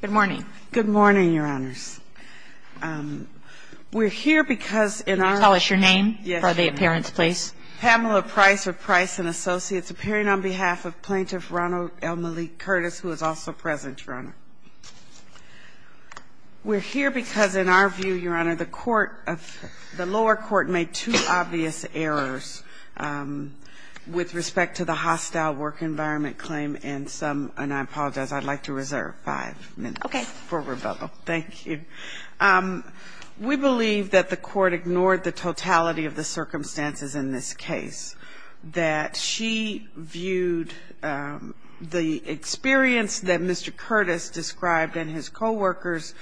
Good morning. Good morning, Your Honors. We're here because in our... Can you tell us your name for the appearance, please? Pamela Price of Price & Associates, appearing on behalf of Plaintiff Ronald L. Malik Curtis, who is also present, Your Honor. We're here because, in our view, Your Honor, the lower court made two obvious errors with respect to the hostile work environment claim and some, and I apologize, I'd like to reserve five minutes for rebuttal. Thank you. We believe that the court ignored the totality of the circumstances in this case. That she viewed the experience that Mr. Curtis described and his coworkers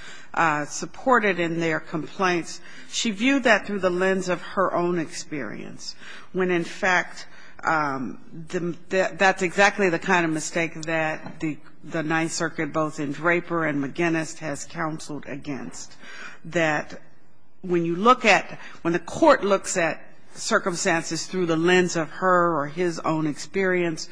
supported in their complaints, she viewed that through the lens of her own experience, when, in fact, that's exactly the kind of mistake that the Ninth Circuit, both in Draper and McGinnis, has counseled against. That when you look at, when the court looks at circumstances through the lens of her or his own experience,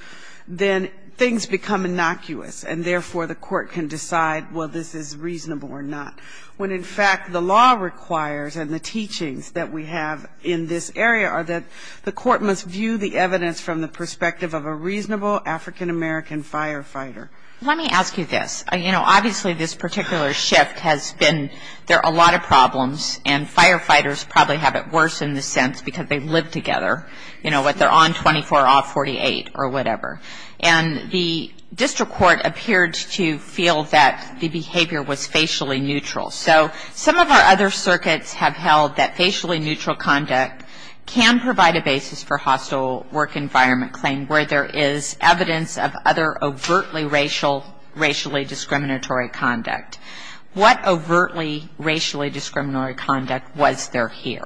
then things become innocuous and, therefore, the court can decide, well, this is reasonable or not. When, in fact, the law requires, and the teachings that we have in this area, are that the court must view the evidence from the perspective of a reasonable African-American firefighter. Let me ask you this. You know, obviously, this particular shift has been, there are a lot of problems, and firefighters probably have it worse, in the sense, because they live together. You know, what, they're on 24, off 48, or whatever. And the district court appeared to feel that the behavior was facially neutral. So some of our other circuits have held that facially neutral conduct can provide a basis for hostile work environment claim, where there is evidence of other overtly racial, racially discriminatory conduct. What overtly racially discriminatory conduct was there here?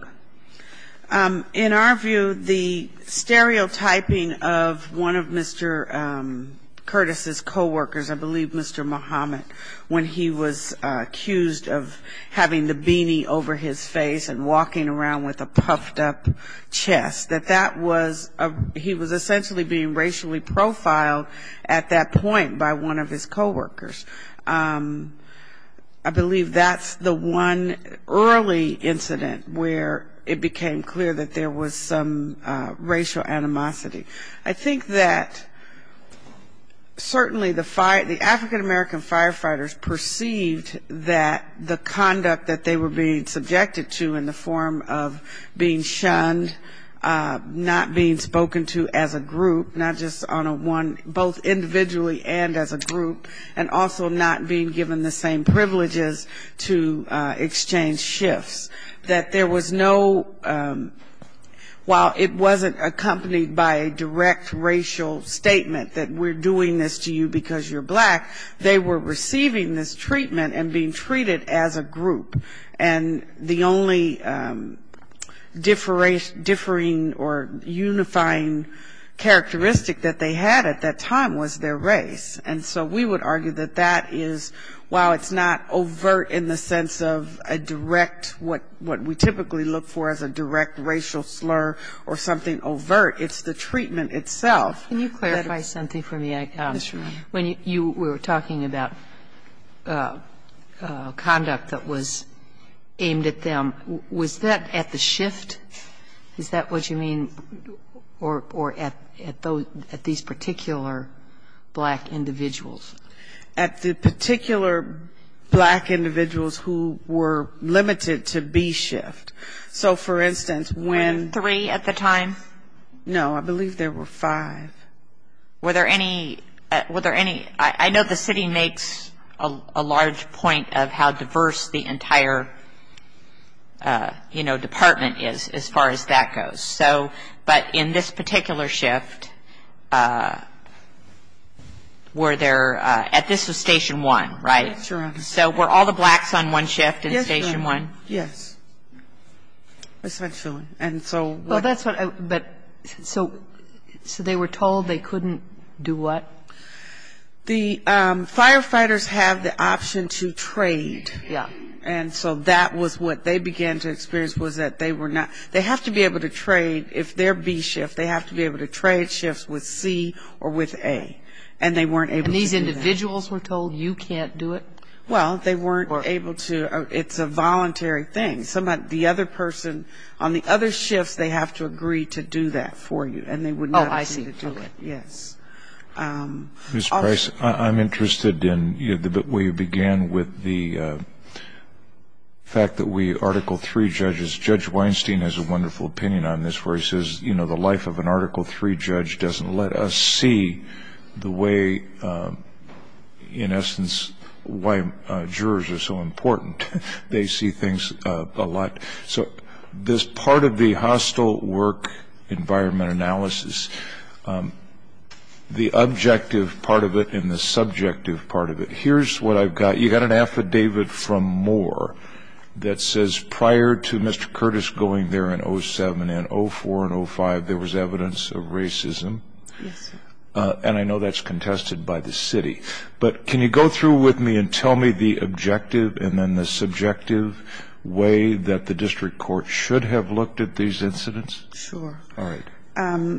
In our view, the stereotyping of one of Mr. Curtis's coworkers, I believe Mr. Muhammad, when he was accused of having the beanie over his face and walking around with a puffed-up chest, that that was, he was essentially being racially profiled at that point by one of his coworkers. I believe that's the one early incident where it became clear that there was some racial animosity. I think that certainly the African-American firefighters perceived that the conduct that they were being subjected to in the form of being shunned, not being spoken to as a group, not just on a one, both individually and as a group, and also not being given the same privileges to exchange shifts. That there was no, while it wasn't accompanied by a direct racial statement that we're doing this to you because you're black, they were receiving this treatment and being treated as a group. And the only differing or unifying characteristic that they had at that time was their race. And so we would argue that that is, while it's not overt in the sense of a direct, what we typically look for as a direct racial slur or something overt, it's the treatment itself. Can you clarify something for me? Yes, Your Honor. When you were talking about conduct that was aimed at them, was that at the shift? Is that what you mean, or at these particular black individuals? At the particular black individuals who were limited to B shift. So, for instance, when --. There were three at the time? No, I believe there were five. Were there any, I know the city makes a large point of how diverse the entire, you know, department is. As far as that goes. So, but in this particular shift, were there, at this was Station 1, right? Yes, Your Honor. So were all the blacks on one shift in Station 1? Yes, Your Honor. Yes. That's my feeling. And so. Well, that's what I, but, so they were told they couldn't do what? The firefighters have the option to trade. Yeah. And so that was what they began to experience was that they were not, they have to be able to trade. If they're B shift, they have to be able to trade shifts with C or with A. And they weren't able to do that. And these individuals were told you can't do it? Well, they weren't able to. It's a voluntary thing. The other person, on the other shifts, they have to agree to do that for you. Oh, I see. Yes. Ms. Price, I'm interested in where you began with the fact that we, Article 3 judges, Judge Weinstein has a wonderful opinion on this where he says, you know, the life of an Article 3 judge doesn't let us see the way, in essence, why jurors are so important. They see things a lot. So this part of the hostile work environment analysis, the objective part of it and the subjective part of it, here's what I've got. You've got an affidavit from Moore that says prior to Mr. Curtis going there in 07 and 04 and 05, there was evidence of racism. Yes. And I know that's contested by the city. But can you go through with me and tell me the objective and then the subjective way that the district court should have looked at these incidents? Sure. All right.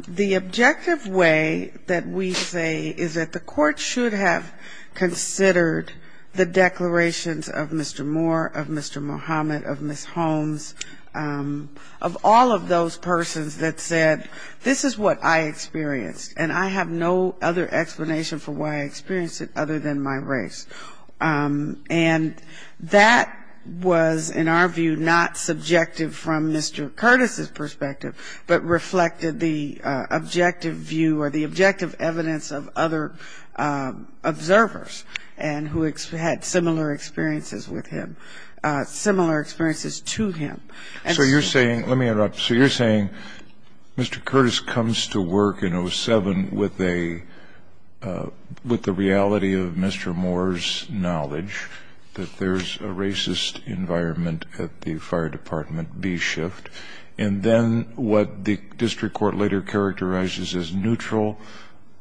The objective way that we say is that the court should have considered the declarations of Mr. Moore, of Mr. Muhammad, of Ms. Holmes, of all of those persons that said, this is what I experienced, and I have no other explanation for why I experienced it other than my race. And that was, in our view, not subjective from Mr. Curtis's perspective, but reflected the objective view or the objective evidence of other observers who had similar experiences with him, similar experiences to him. So you're saying, let me interrupt. So you're saying Mr. Curtis comes to work in 07 with a, with the reality of Mr. Moore's knowledge that there's a racist environment at the fire department, B shift, and then what the district court later characterizes as neutral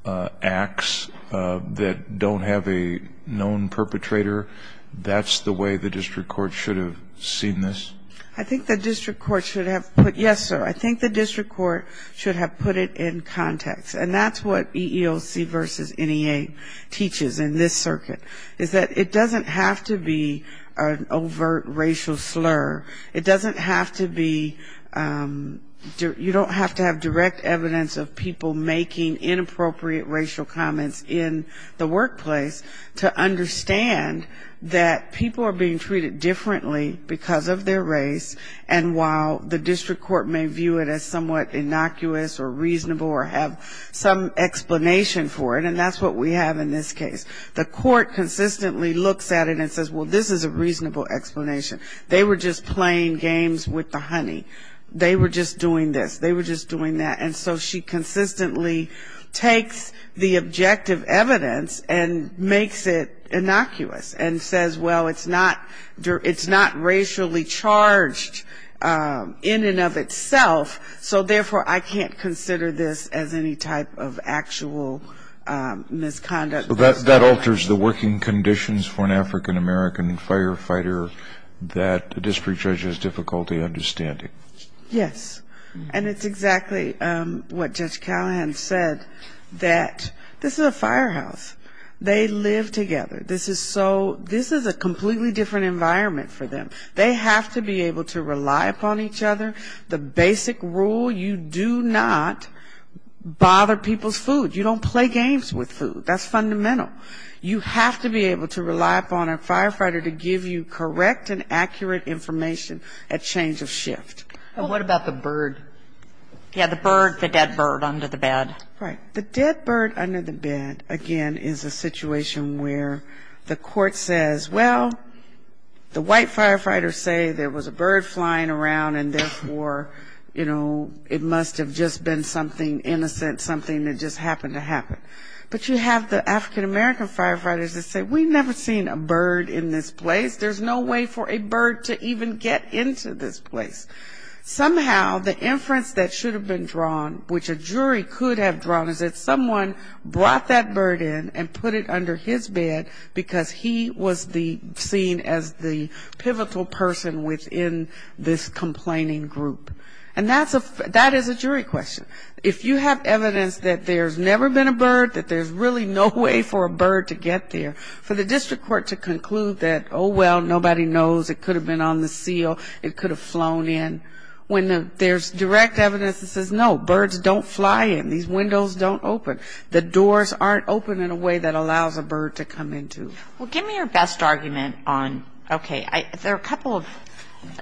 acts that don't have a known perpetrator, that's the way the district court should have seen this? I think the district court should have put, yes, sir, I think the district court should have put it in context. And that's what EEOC versus NEA teaches in this circuit, is that it doesn't have to be an overt racial slur. It doesn't have to be, you don't have to have direct evidence of people making inappropriate racial comments in the workplace to understand that people are being treated differently because of their race, and while the district court may view it as somewhat innocuous or reasonable or have some explanation for it, and that's what we have in this case. The court consistently looks at it and says, well, this is a reasonable explanation. They were just playing games with the honey. They were just doing this, they were just doing that. And so she consistently takes the objective evidence and makes it innocuous and says, well, it's not racially charged in and of itself, so therefore I can't consider this as any type of actual misconduct. So that alters the working conditions for an African-American firefighter that a district judge has difficulty understanding. Yes. And it's exactly what Judge Callahan said, that this is a firehouse. They live together. This is so, this is a completely different environment for them. They have to be able to rely upon each other. The basic rule, you do not bother people's food. You don't play games with food. That's fundamental. You have to be able to rely upon a firefighter to give you correct and accurate information at change of shift. And what about the bird? Yeah, the bird, the dead bird under the bed. Right. The dead bird under the bed, again, is a situation where the court says, well, the white firefighters say there was a bird flying around, and therefore, you know, it must have just been something innocent, something that just happened to happen. But you have the African-American firefighters that say, we've never seen a bird in this place. There's no way for a bird to even get into this place. Somehow the inference that should have been drawn, which a jury could have drawn, is that someone brought that bird in and put it under his bed because he was the, seen as the pivotal person within this complaining group. And that is a jury question. If you have evidence that there's never been a bird, that there's really no way for a bird to get there, for the district court to conclude that, oh, well, nobody knows, it could have been on the seal, it could have flown in, when there's direct evidence that says, no, birds don't fly in, these windows don't open, the doors aren't open in a way that allows a bird to come into. Well, give me your best argument on, okay, there are a couple of,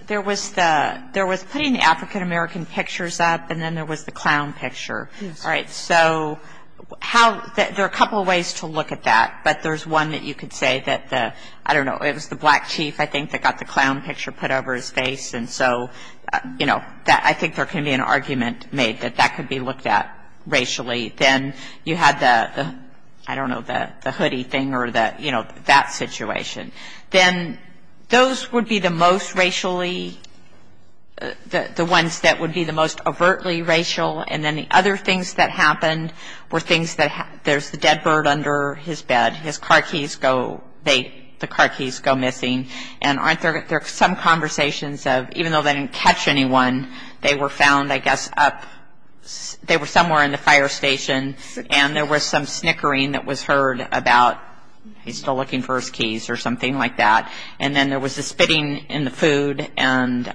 there was the, there was putting the African-American pictures up, and then there was the clown picture, right? So how, there are a couple of ways to look at that, but there's one that you could say that the, I don't know, it was the black chief, I think, that got the clown picture put over his face. And so, you know, I think there can be an argument made that that could be looked at racially. Then you had the, I don't know, the hoodie thing or the, you know, that situation. Then those would be the most racially, the ones that would be the most overtly racial, and then the other things that happened were things that, there's the dead bird under his bed, his car keys go, they, the car keys go missing, and aren't there some conversations of, even though they didn't catch anyone, they were found, I guess, up, they were somewhere in the fire station, and there was some snickering that was heard about, he's still looking for his keys or something. And then there was the spitting in the food, and,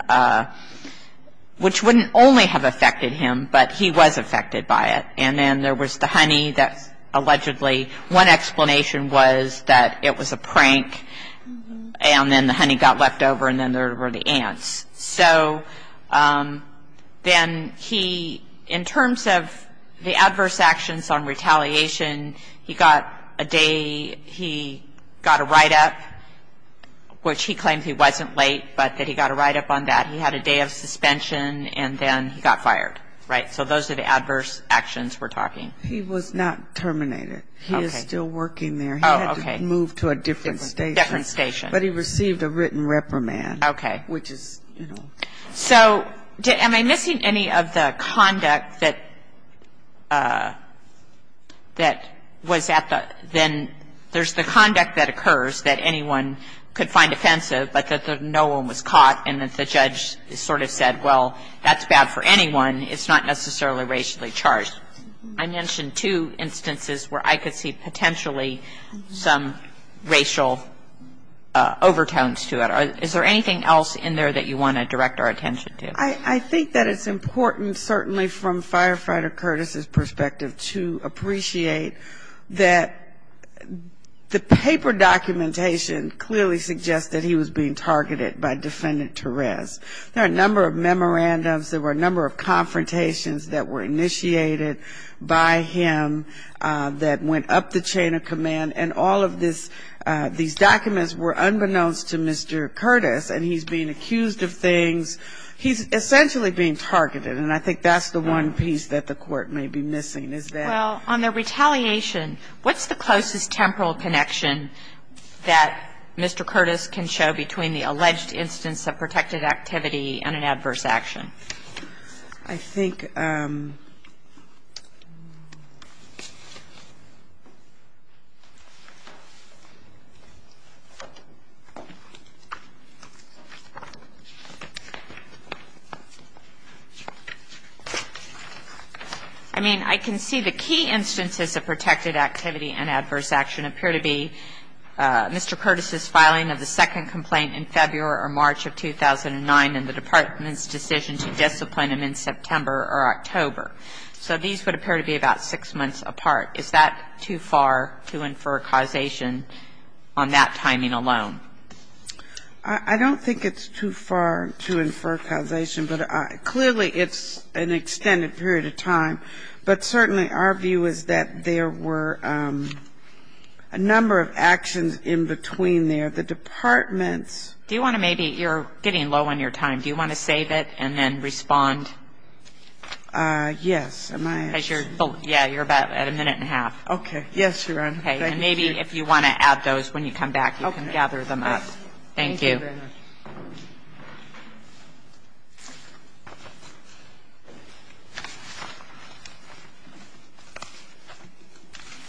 which wouldn't only have affected him, but he was affected by it, and then there was the honey that allegedly, one explanation was that it was a prank, and then the honey got left over, and then there were the ants. So then he, in terms of the adverse actions on retaliation, he got a day, he got a write-up, which he claimed he wasn't late, but that he got a write-up on that. He had a day of suspension, and then he got fired, right? So those are the adverse actions we're talking. He was not terminated. Okay. He is still working there. Oh, okay. He had to move to a different station. But he received a written reprimand. Okay. Which is, you know. So am I missing any of the conduct that was at the, then there's the conduct that occurs that anyone could find offensive, but that no one was caught, and that the judge sort of said, well, that's bad for anyone, it's not necessarily racially charged. I mentioned two instances where I could see potentially some racial overtones to it. Is there anything else in there that you want to direct our attention to? I think that it's important, certainly from Firefighter Curtis's perspective, to appreciate that the paper documentation clearly suggests that he was being targeted by Defendant Therese. There are a number of memorandums, there were a number of confrontations that were initiated by him that went up the chain of command, and all of this, these documents were unbeknownst to Mr. Curtis, and he's being accused of things. He's essentially being targeted, and I think that's the one piece that the Court may be missing, is that. Well, on the retaliation, what's the closest temporal connection that Mr. Curtis can show between the alleged instance of protected activity and an adverse action? I think I mean, I can see the key instances of protected activity and adverse action appear to be Mr. Curtis's filing of the second complaint in February or March of 2009 and the Department's decision to discipline him in September or October. So these would appear to be about six months apart. Is that too far to infer causation on that timing alone? I don't think it's too far to infer causation, but clearly it's an extended period of time. But certainly our view is that there were a number of actions in between there. The Department's Do you want to maybe You're getting low on your time. Do you want to save it and then respond? Yes. Am I Because you're Yeah, you're about at a minute and a half. Okay. Yes, Your Honor. Okay. And maybe if you want to add those when you come back, you can gather them up. Okay. Thank you. Thank you very much.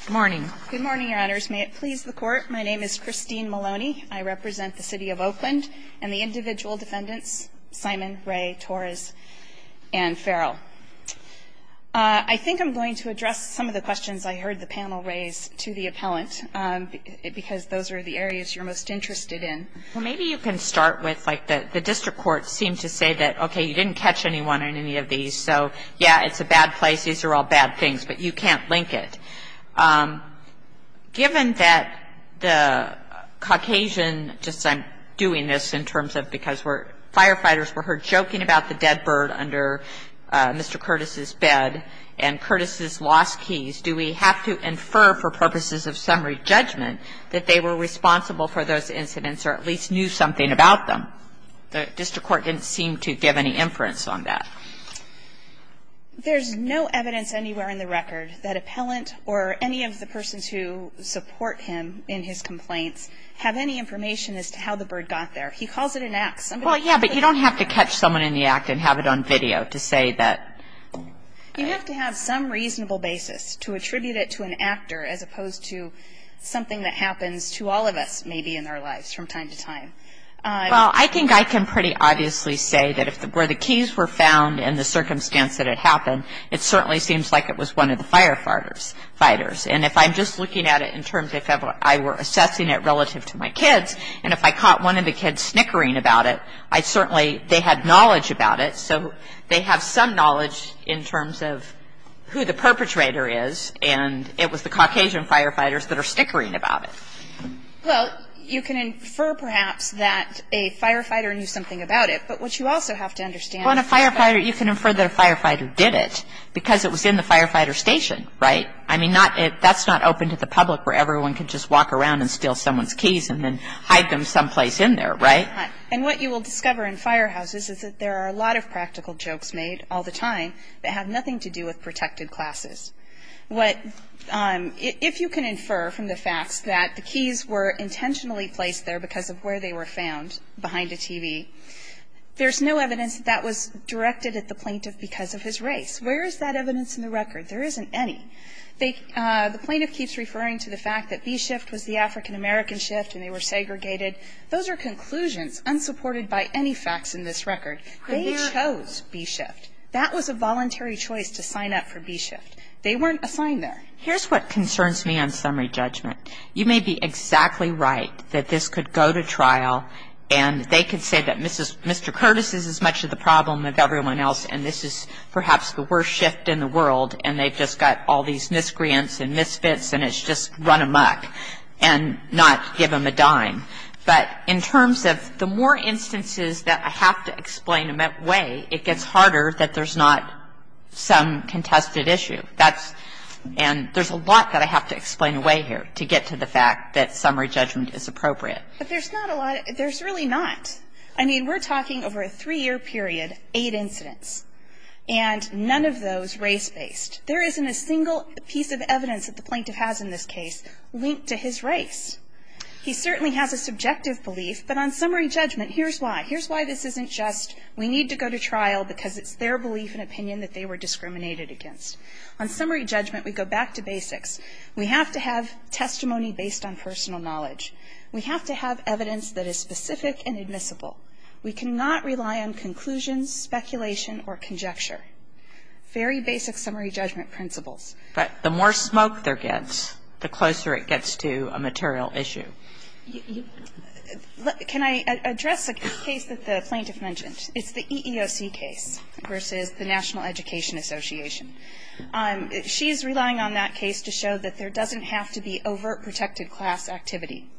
Good morning. Good morning, Your Honors. May it please the Court. My name is Christine Maloney. I represent the City of Oakland and the individual defendants, Simon, Ray, Torres, and Farrell. I think I'm going to address some of the questions I heard the panel raise to the appellant, because those are the areas you're most interested in. Well, maybe you can start with, like, the district courts seem to say that, okay, you didn't catch anyone in any of these, so, yeah, it's a bad place, these are all bad things, but you can't link it. Given that the Caucasian, just I'm doing this in terms of because firefighters were heard joking about the dead bird under Mr. Curtis's bed and Curtis's lost keys, do we have to infer for purposes of summary judgment that they were responsible for those incidents or at least knew something about them? The district court didn't seem to give any inference on that. There's no evidence anywhere in the record that appellant or any of the persons who support him in his complaints have any information as to how the bird got there. He calls it an act. Well, yeah, but you don't have to catch someone in the act and have it on video to say that. You have to have some reasonable basis to attribute it to an actor as opposed to something that happens to all of us maybe in our lives from time to time. Well, I think I can pretty obviously say that where the keys were found and the circumstance that it happened, it certainly seems like it was one of the firefighters. And if I'm just looking at it in terms of if I were assessing it relative to my kids and if I caught one of the kids snickering about it, I'd certainly, they had knowledge about it, so they have some knowledge in terms of who the perpetrator is and it was the Caucasian firefighters that are snickering about it. Well, you can infer perhaps that a firefighter knew something about it, but what you also have to understand is that you can infer that a firefighter did it because it was in the firefighter station, right? I mean, that's not open to the public where everyone can just walk around and steal someone's keys and then hide them someplace in there, right? And what you will discover in firehouses is that there are a lot of practical jokes made all the time that have nothing to do with protected classes. If you can infer from the facts that the keys were intentionally placed there because of where they were found behind a TV, there's no evidence that that was directed at the plaintiff because of his race. Where is that evidence in the record? There isn't any. The plaintiff keeps referring to the fact that B-shift was the African-American shift and they were segregated. Those are conclusions unsupported by any facts in this record. They chose B-shift. That was a voluntary choice to sign up for B-shift. They weren't assigned there. Here's what concerns me on summary judgment. You may be exactly right that this could go to trial and they could say that Mr. Curtis is as much of the problem as everyone else and this is perhaps the worst shift in the world and they've just got all these miscreants and misfits and it's just run amuck and not give them a dime. But in terms of the more instances that I have to explain them that way, it gets harder that there's not some contested issue. And there's a lot that I have to explain away here to get to the fact that summary judgment is appropriate. But there's not a lot. There's really not. I mean, we're talking over a three-year period, eight incidents, and none of those race-based. There isn't a single piece of evidence that the plaintiff has in this case linked to his race. He certainly has a subjective belief, but on summary judgment, here's why. Here's why this isn't just we need to go to trial because it's their belief and opinion that they were discriminated against. On summary judgment, we go back to basics. We have to have testimony based on personal knowledge. We have to have evidence that is specific and admissible. We cannot rely on conclusions, speculation, or conjecture. Very basic summary judgment principles. But the more smoke there gets, the closer it gets to a material issue. Can I address a case that the plaintiff mentioned? It's the EEOC case versus the National Education Association. She's relying on that case to show that there doesn't have to be overt protected class activity.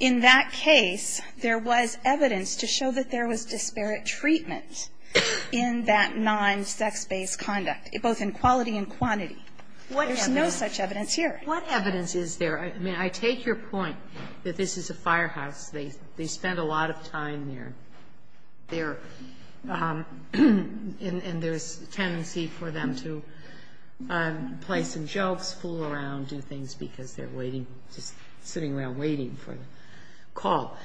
In that case, there was evidence to show that there was disparate treatment in that non-sex-based conduct, both in quality and quantity. There's no such evidence here. What evidence is there? I mean, I take your point that this is a firehouse. They spent a lot of time there. And there's a tendency for them to play some jokes, fool around, do things because they're waiting, just sitting around waiting for the call.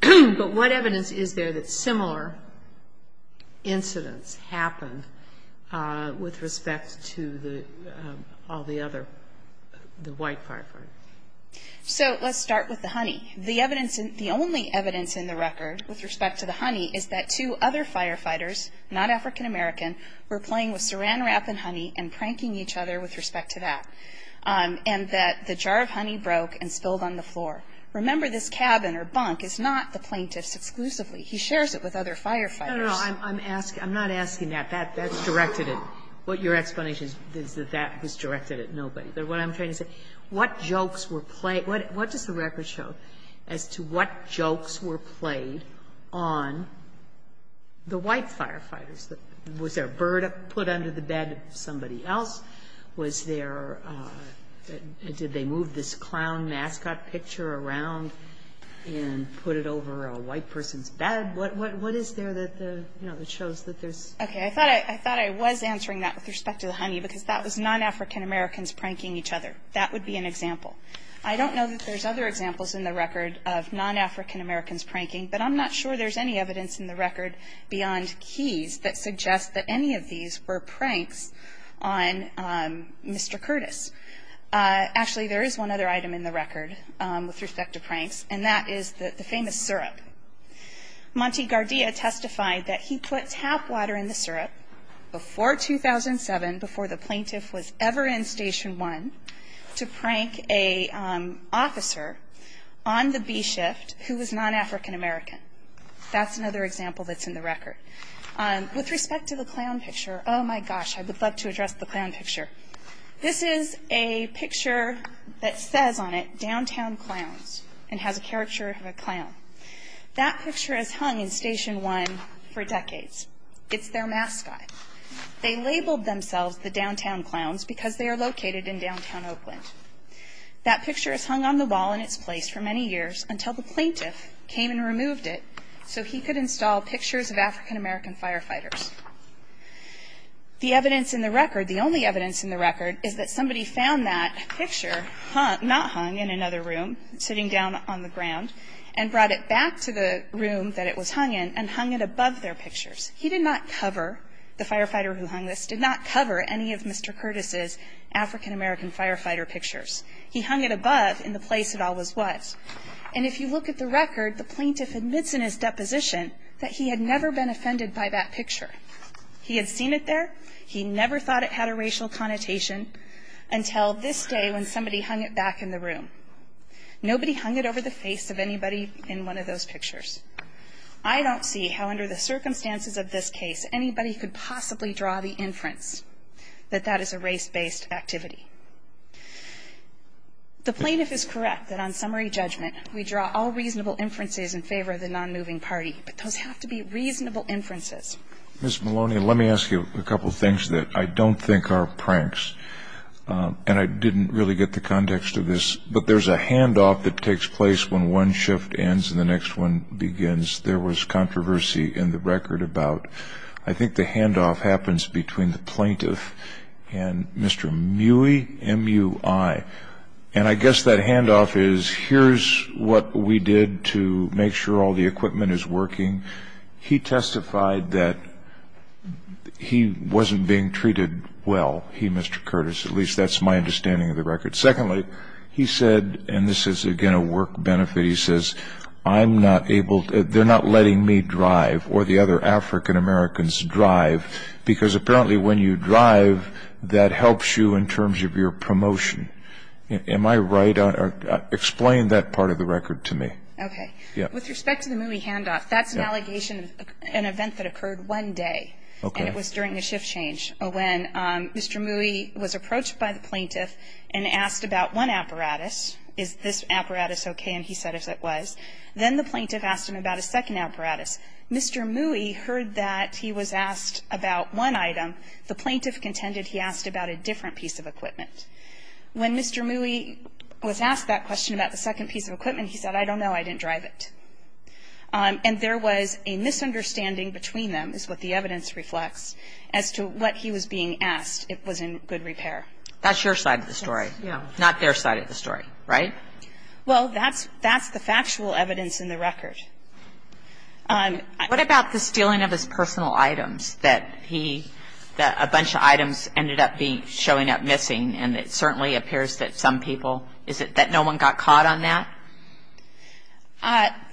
But what evidence is there that similar incidents happened with respect to all the other, the white firefighters? So let's start with the honey. The evidence in the only evidence in the record with respect to the honey is that two other firefighters, not African-American, were playing with saran wrap and honey and pranking each other with respect to that, and that the jar of honey broke and spilled on the floor. Remember, this cabin or bunk is not the plaintiff's exclusively. He shares it with other firefighters. No, no, no. I'm asking, I'm not asking that. That's directed at, what your explanation is that that was directed at nobody. What I'm trying to say, what jokes were played, what does the record show as to what jokes were played on the white firefighters? Was there a bird put under the bed of somebody else? Was there, did they move this clown mascot picture around and put it over a white person's bed? What is there that shows that there's? Okay. I thought I was answering that with respect to the honey because that was non-African- Americans pranking each other. That would be an example. I don't know that there's other examples in the record of non-African-Americans pranking, but I'm not sure there's any evidence in the record beyond keys that suggests that any of these were pranks on Mr. Curtis. Actually, there is one other item in the record with respect to pranks, and that is the famous syrup. Monte Gardea testified that he put tap water in the syrup before 2007, before the prank a officer on the B-shift who was non-African-American. That's another example that's in the record. With respect to the clown picture, oh, my gosh, I would love to address the clown picture. This is a picture that says on it, downtown clowns, and has a caricature of a clown. That picture has hung in Station 1 for decades. It's their mascot. They labeled themselves the downtown clowns because they are located in downtown Oakland. That picture is hung on the wall in its place for many years until the plaintiff came and removed it so he could install pictures of African-American firefighters. The evidence in the record, the only evidence in the record, is that somebody found that picture not hung in another room, sitting down on the ground, and brought it back to the room that it was hung in and hung it above their pictures. He did not cover, the firefighter who hung this, did not cover any of Mr. Curtis's African-American firefighter pictures. He hung it above in the place it always was. And if you look at the record, the plaintiff admits in his deposition that he had never been offended by that picture. He had seen it there. He never thought it had a racial connotation until this day when somebody hung it back in the room. Nobody hung it over the face of anybody in one of those pictures. I don't see how under the circumstances of this case anybody could possibly draw the inference that that is a race-based activity. The plaintiff is correct that on summary judgment we draw all reasonable inferences in favor of the nonmoving party, but those have to be reasonable inferences. Ms. Maloney, let me ask you a couple of things that I don't think are pranks, and I didn't really get the context of this, but there's a handoff that takes place when one shift ends and the next one begins. There was controversy in the record about I think the handoff happens between the plaintiff and Mr. Mui, M-U-I. And I guess that handoff is here's what we did to make sure all the equipment is working. He testified that he wasn't being treated well, he, Mr. Curtis. At least that's my understanding of the record. Secondly, he said, and this is again a work benefit, he says, I'm not able to, they're not letting me drive or the other African-Americans drive because apparently when you drive that helps you in terms of your promotion. Am I right? Explain that part of the record to me. Okay. With respect to the Mui handoff, that's an allegation of an event that occurred one day. Okay. And it was during a shift change when Mr. Mui was approached by the plaintiff and asked about one apparatus. Is this apparatus okay? And he said it was. Then the plaintiff asked him about a second apparatus. Mr. Mui heard that he was asked about one item. The plaintiff contended he asked about a different piece of equipment. When Mr. Mui was asked that question about the second piece of equipment, he said, I don't know, I didn't drive it. And there was a misunderstanding between them, is what the evidence reflects, as to what he was being asked. It was in good repair. That's your side of the story. Yeah. Not their side of the story. Right? Well, that's the factual evidence in the record. What about the stealing of his personal items that he, that a bunch of items ended up being, showing up missing, and it certainly appears that some people, is it that no one got caught on that?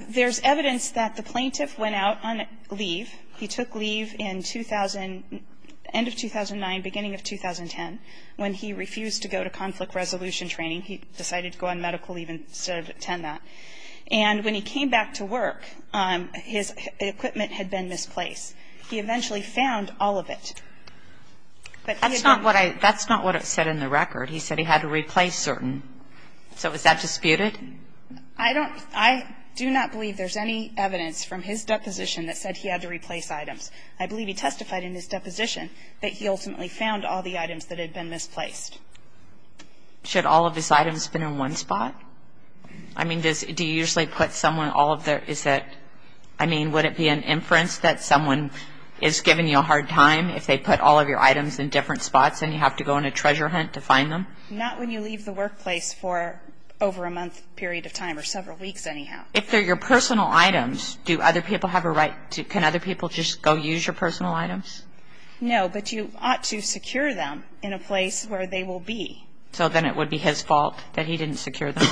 There's evidence that the plaintiff went out on leave. He took leave in 2000, end of 2009, beginning of 2010 when he refused to go to conflict resolution training. He decided to go on medical leave instead of attend that. And when he came back to work, his equipment had been misplaced. He eventually found all of it. That's not what I, that's not what it said in the record. He said he had to replace certain. So is that disputed? I don't, I do not believe there's any evidence from his deposition that said he had to replace items. I believe he testified in his deposition that he ultimately found all the items that had been misplaced. Should all of his items have been in one spot? I mean, does, do you usually put someone all of their, is that, I mean, would it be an inference that someone is giving you a hard time if they put all of your items in different spots and you have to go on a treasure hunt to find them? Not when you leave the workplace for over a month period of time or several weeks anyhow. If they're your personal items, do other people have a right to, can other people just go use your personal items? No, but you ought to secure them in a place where they will be. So then it would be his fault that he didn't secure them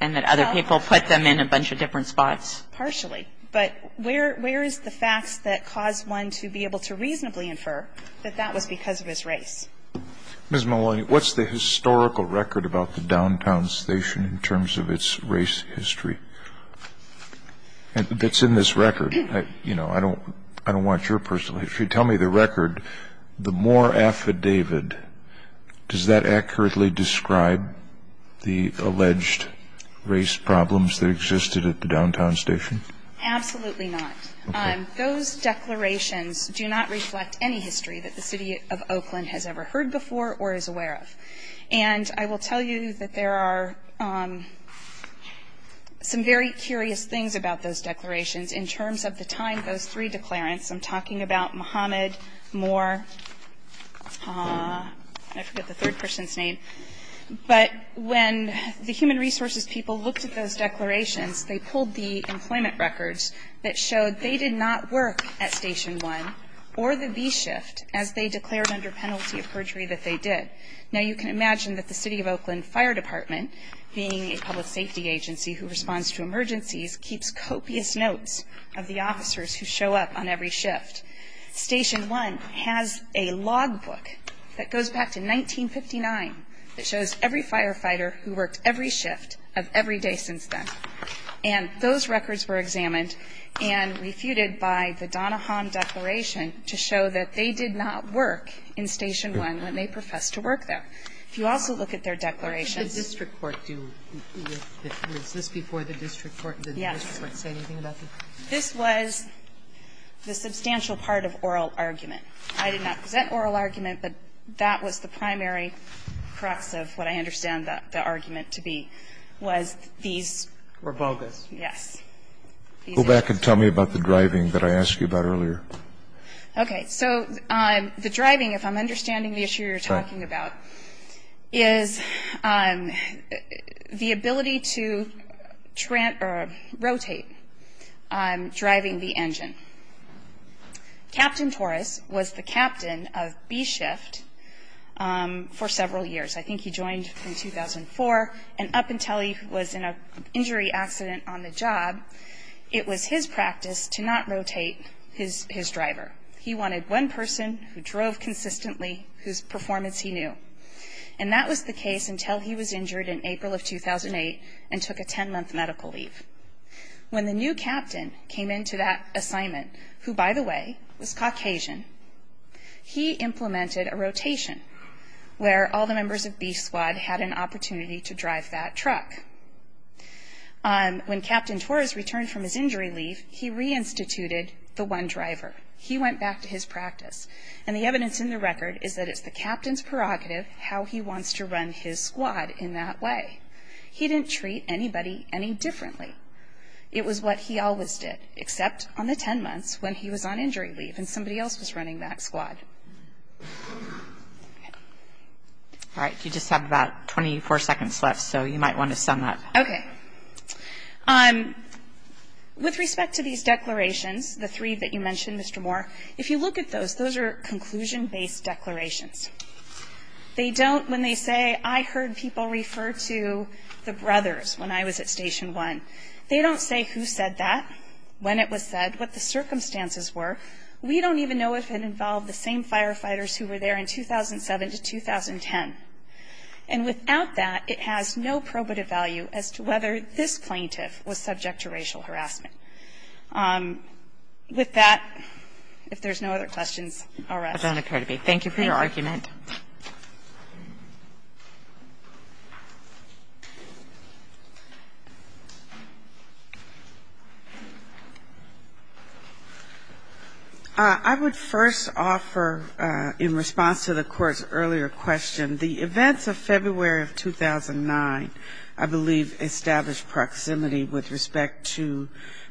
and that other people put them in a bunch of different spots? Partially. But where, where is the facts that cause one to be able to reasonably infer that that was because of his race? Ms. Maloney, what's the historical record about the downtown station in terms of its race history that's in this record? You know, I don't, I don't want your personal history. Tell me the record. The Moore Affidavit, does that accurately describe the alleged race problems that existed at the downtown station? Absolutely not. Okay. Those declarations do not reflect any history that the City of Oakland has ever heard before or is aware of. And I will tell you that there are some very curious things about those declarations in terms of the time of those three declarants. I'm talking about Mohammed Moore, I forget the third person's name. But when the human resources people looked at those declarations, they pulled the employment records that showed they did not work at Station 1 or the V-Shift as they declared under penalty of perjury that they did. Now you can imagine that the City of Oakland Fire Department, being a public safety agency who responds to emergencies, keeps copious notes of the officers who show up on every shift. Station 1 has a logbook that goes back to 1959 that shows every firefighter who worked every shift of every day since then. And those records were examined and refuted by the Donahom Declaration to show that they did not work in Station 1 when they professed to work there. If you also look at their declarations. What did the district court do? Was this before the district court? Yes. Did the district court say anything about this? This was the substantial part of oral argument. I did not present oral argument, but that was the primary crux of what I understand the argument to be, was these were bogus. Yes. Go back and tell me about the driving that I asked you about earlier. Okay. So the driving, if I'm understanding the issue you're talking about, is the ability to rotate driving the engine. Captain Torres was the captain of B Shift for several years. I think he joined in 2004. And up until he was in an injury accident on the job, it was his practice to not rotate his driver. He wanted one person who drove consistently whose performance he knew. And that was the case until he was injured in April of 2008 and took a 10-month medical leave. When the new captain came into that assignment, who, by the way, was Caucasian, he implemented a rotation where all the members of B Squad had an opportunity to drive that truck. When Captain Torres returned from his injury leave, he reinstituted the one driver. He went back to his practice. And the evidence in the record is that it's the captain's prerogative how he wants to run his squad in that way. He didn't treat anybody any differently. It was what he always did, except on the 10 months when he was on injury leave and somebody else was running that squad. All right. You just have about 24 seconds left, so you might want to sum up. Okay. With respect to these declarations, the three that you mentioned, Mr. Moore, if you look at those, those are conclusion-based declarations. They don't, when they say, I heard people refer to the brothers when I was at Station 1, they don't say who said that, when it was said, what the circumstances were. We don't even know if it involved the same firefighters who were there in 2007 to 2010. And without that, it has no probative value as to whether this plaintiff was subject to racial harassment. With that, if there's no other questions, I'll rest. Thank you for your argument. I would first offer, in response to the Court's earlier question, the events of February of 2009, I believe, established proximity with respect to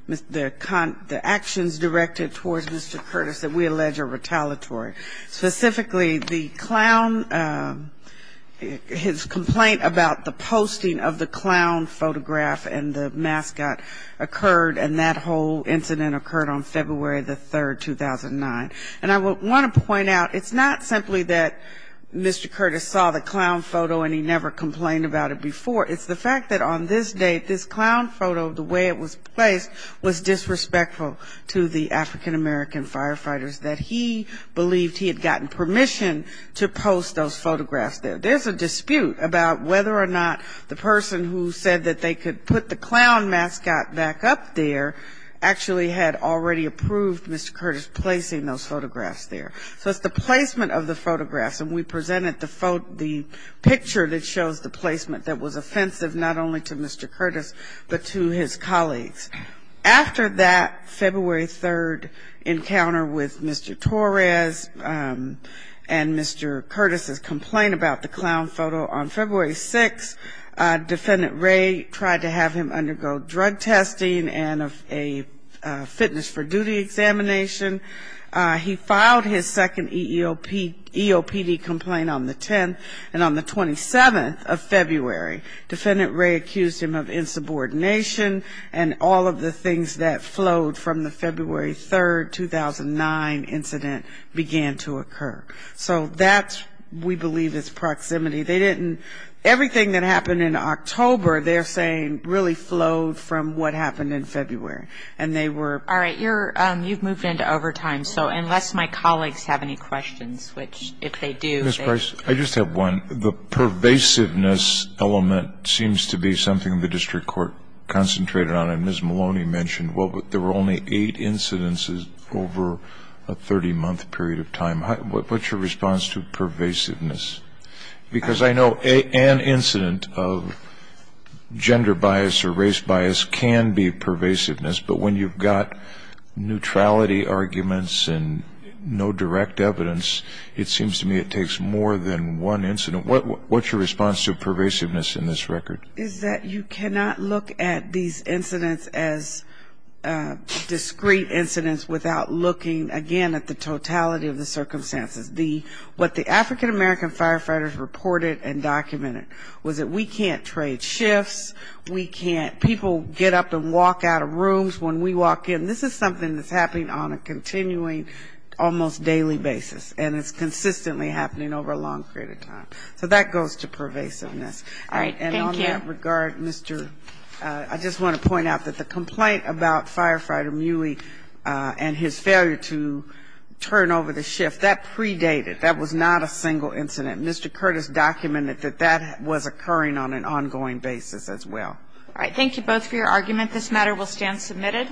the actions directed towards Mr. Curtis that we allege are retaliatory. Specifically, the clown, his complaint about the posting of the clown photograph and the mascot occurred, and that whole incident occurred on February the 3rd, 2009. And I want to point out, it's not simply that Mr. Curtis saw the clown photo and he never complained about it before. It's the fact that on this date, this clown photo, the way it was placed, was disrespectful to the African-American firefighters, that he believed he had gotten permission to post those photographs there. There's a dispute about whether or not the person who said that they could put the clown mascot back up there actually had already approved Mr. Curtis placing those photographs there. So it's the placement of the photographs. And we presented the picture that shows the placement that was offensive, not only to Mr. Curtis, but to his colleagues. After that February 3rd encounter with Mr. Torres and Mr. Curtis' complaint about the clown photo, on February 6th, Defendant Ray tried to have him undergo drug testing and a fitness for duty examination. He filed his second EOPD complaint on the 10th. And on the 27th of February, Defendant Ray accused him of insubordination and all of the things that flowed from the February 3rd, 2009 incident began to occur. So that, we believe, is proximity. They didn't, everything that happened in October, they're saying, really flowed from what happened in February. And they were. All right. You've moved into overtime. So unless my colleagues have any questions, which if they do. Ms. Price, I just have one. The pervasiveness element seems to be something the district court concentrated on. And Ms. Maloney mentioned, well, there were only eight incidents over a 30-month period of time. What's your response to pervasiveness? Because I know an incident of gender bias or race bias can be pervasiveness. But when you've got neutrality arguments and no direct evidence, it seems to me it takes more than one incident. What's your response to pervasiveness in this record? Is that you cannot look at these incidents as discrete incidents without looking, again, at the totality of the circumstances. What the African-American firefighters reported and documented was that we can't trade shifts, we can't, people get up and walk out of rooms when we walk in. And this is something that's happening on a continuing, almost daily basis. And it's consistently happening over a long period of time. So that goes to pervasiveness. All right. Thank you. And on that regard, Mr. I just want to point out that the complaint about Firefighter Muey and his failure to turn over the shift, that predated. That was not a single incident. Mr. Curtis documented that that was occurring on an ongoing basis as well. All right. Thank you both for your argument. This matter will stand submitted.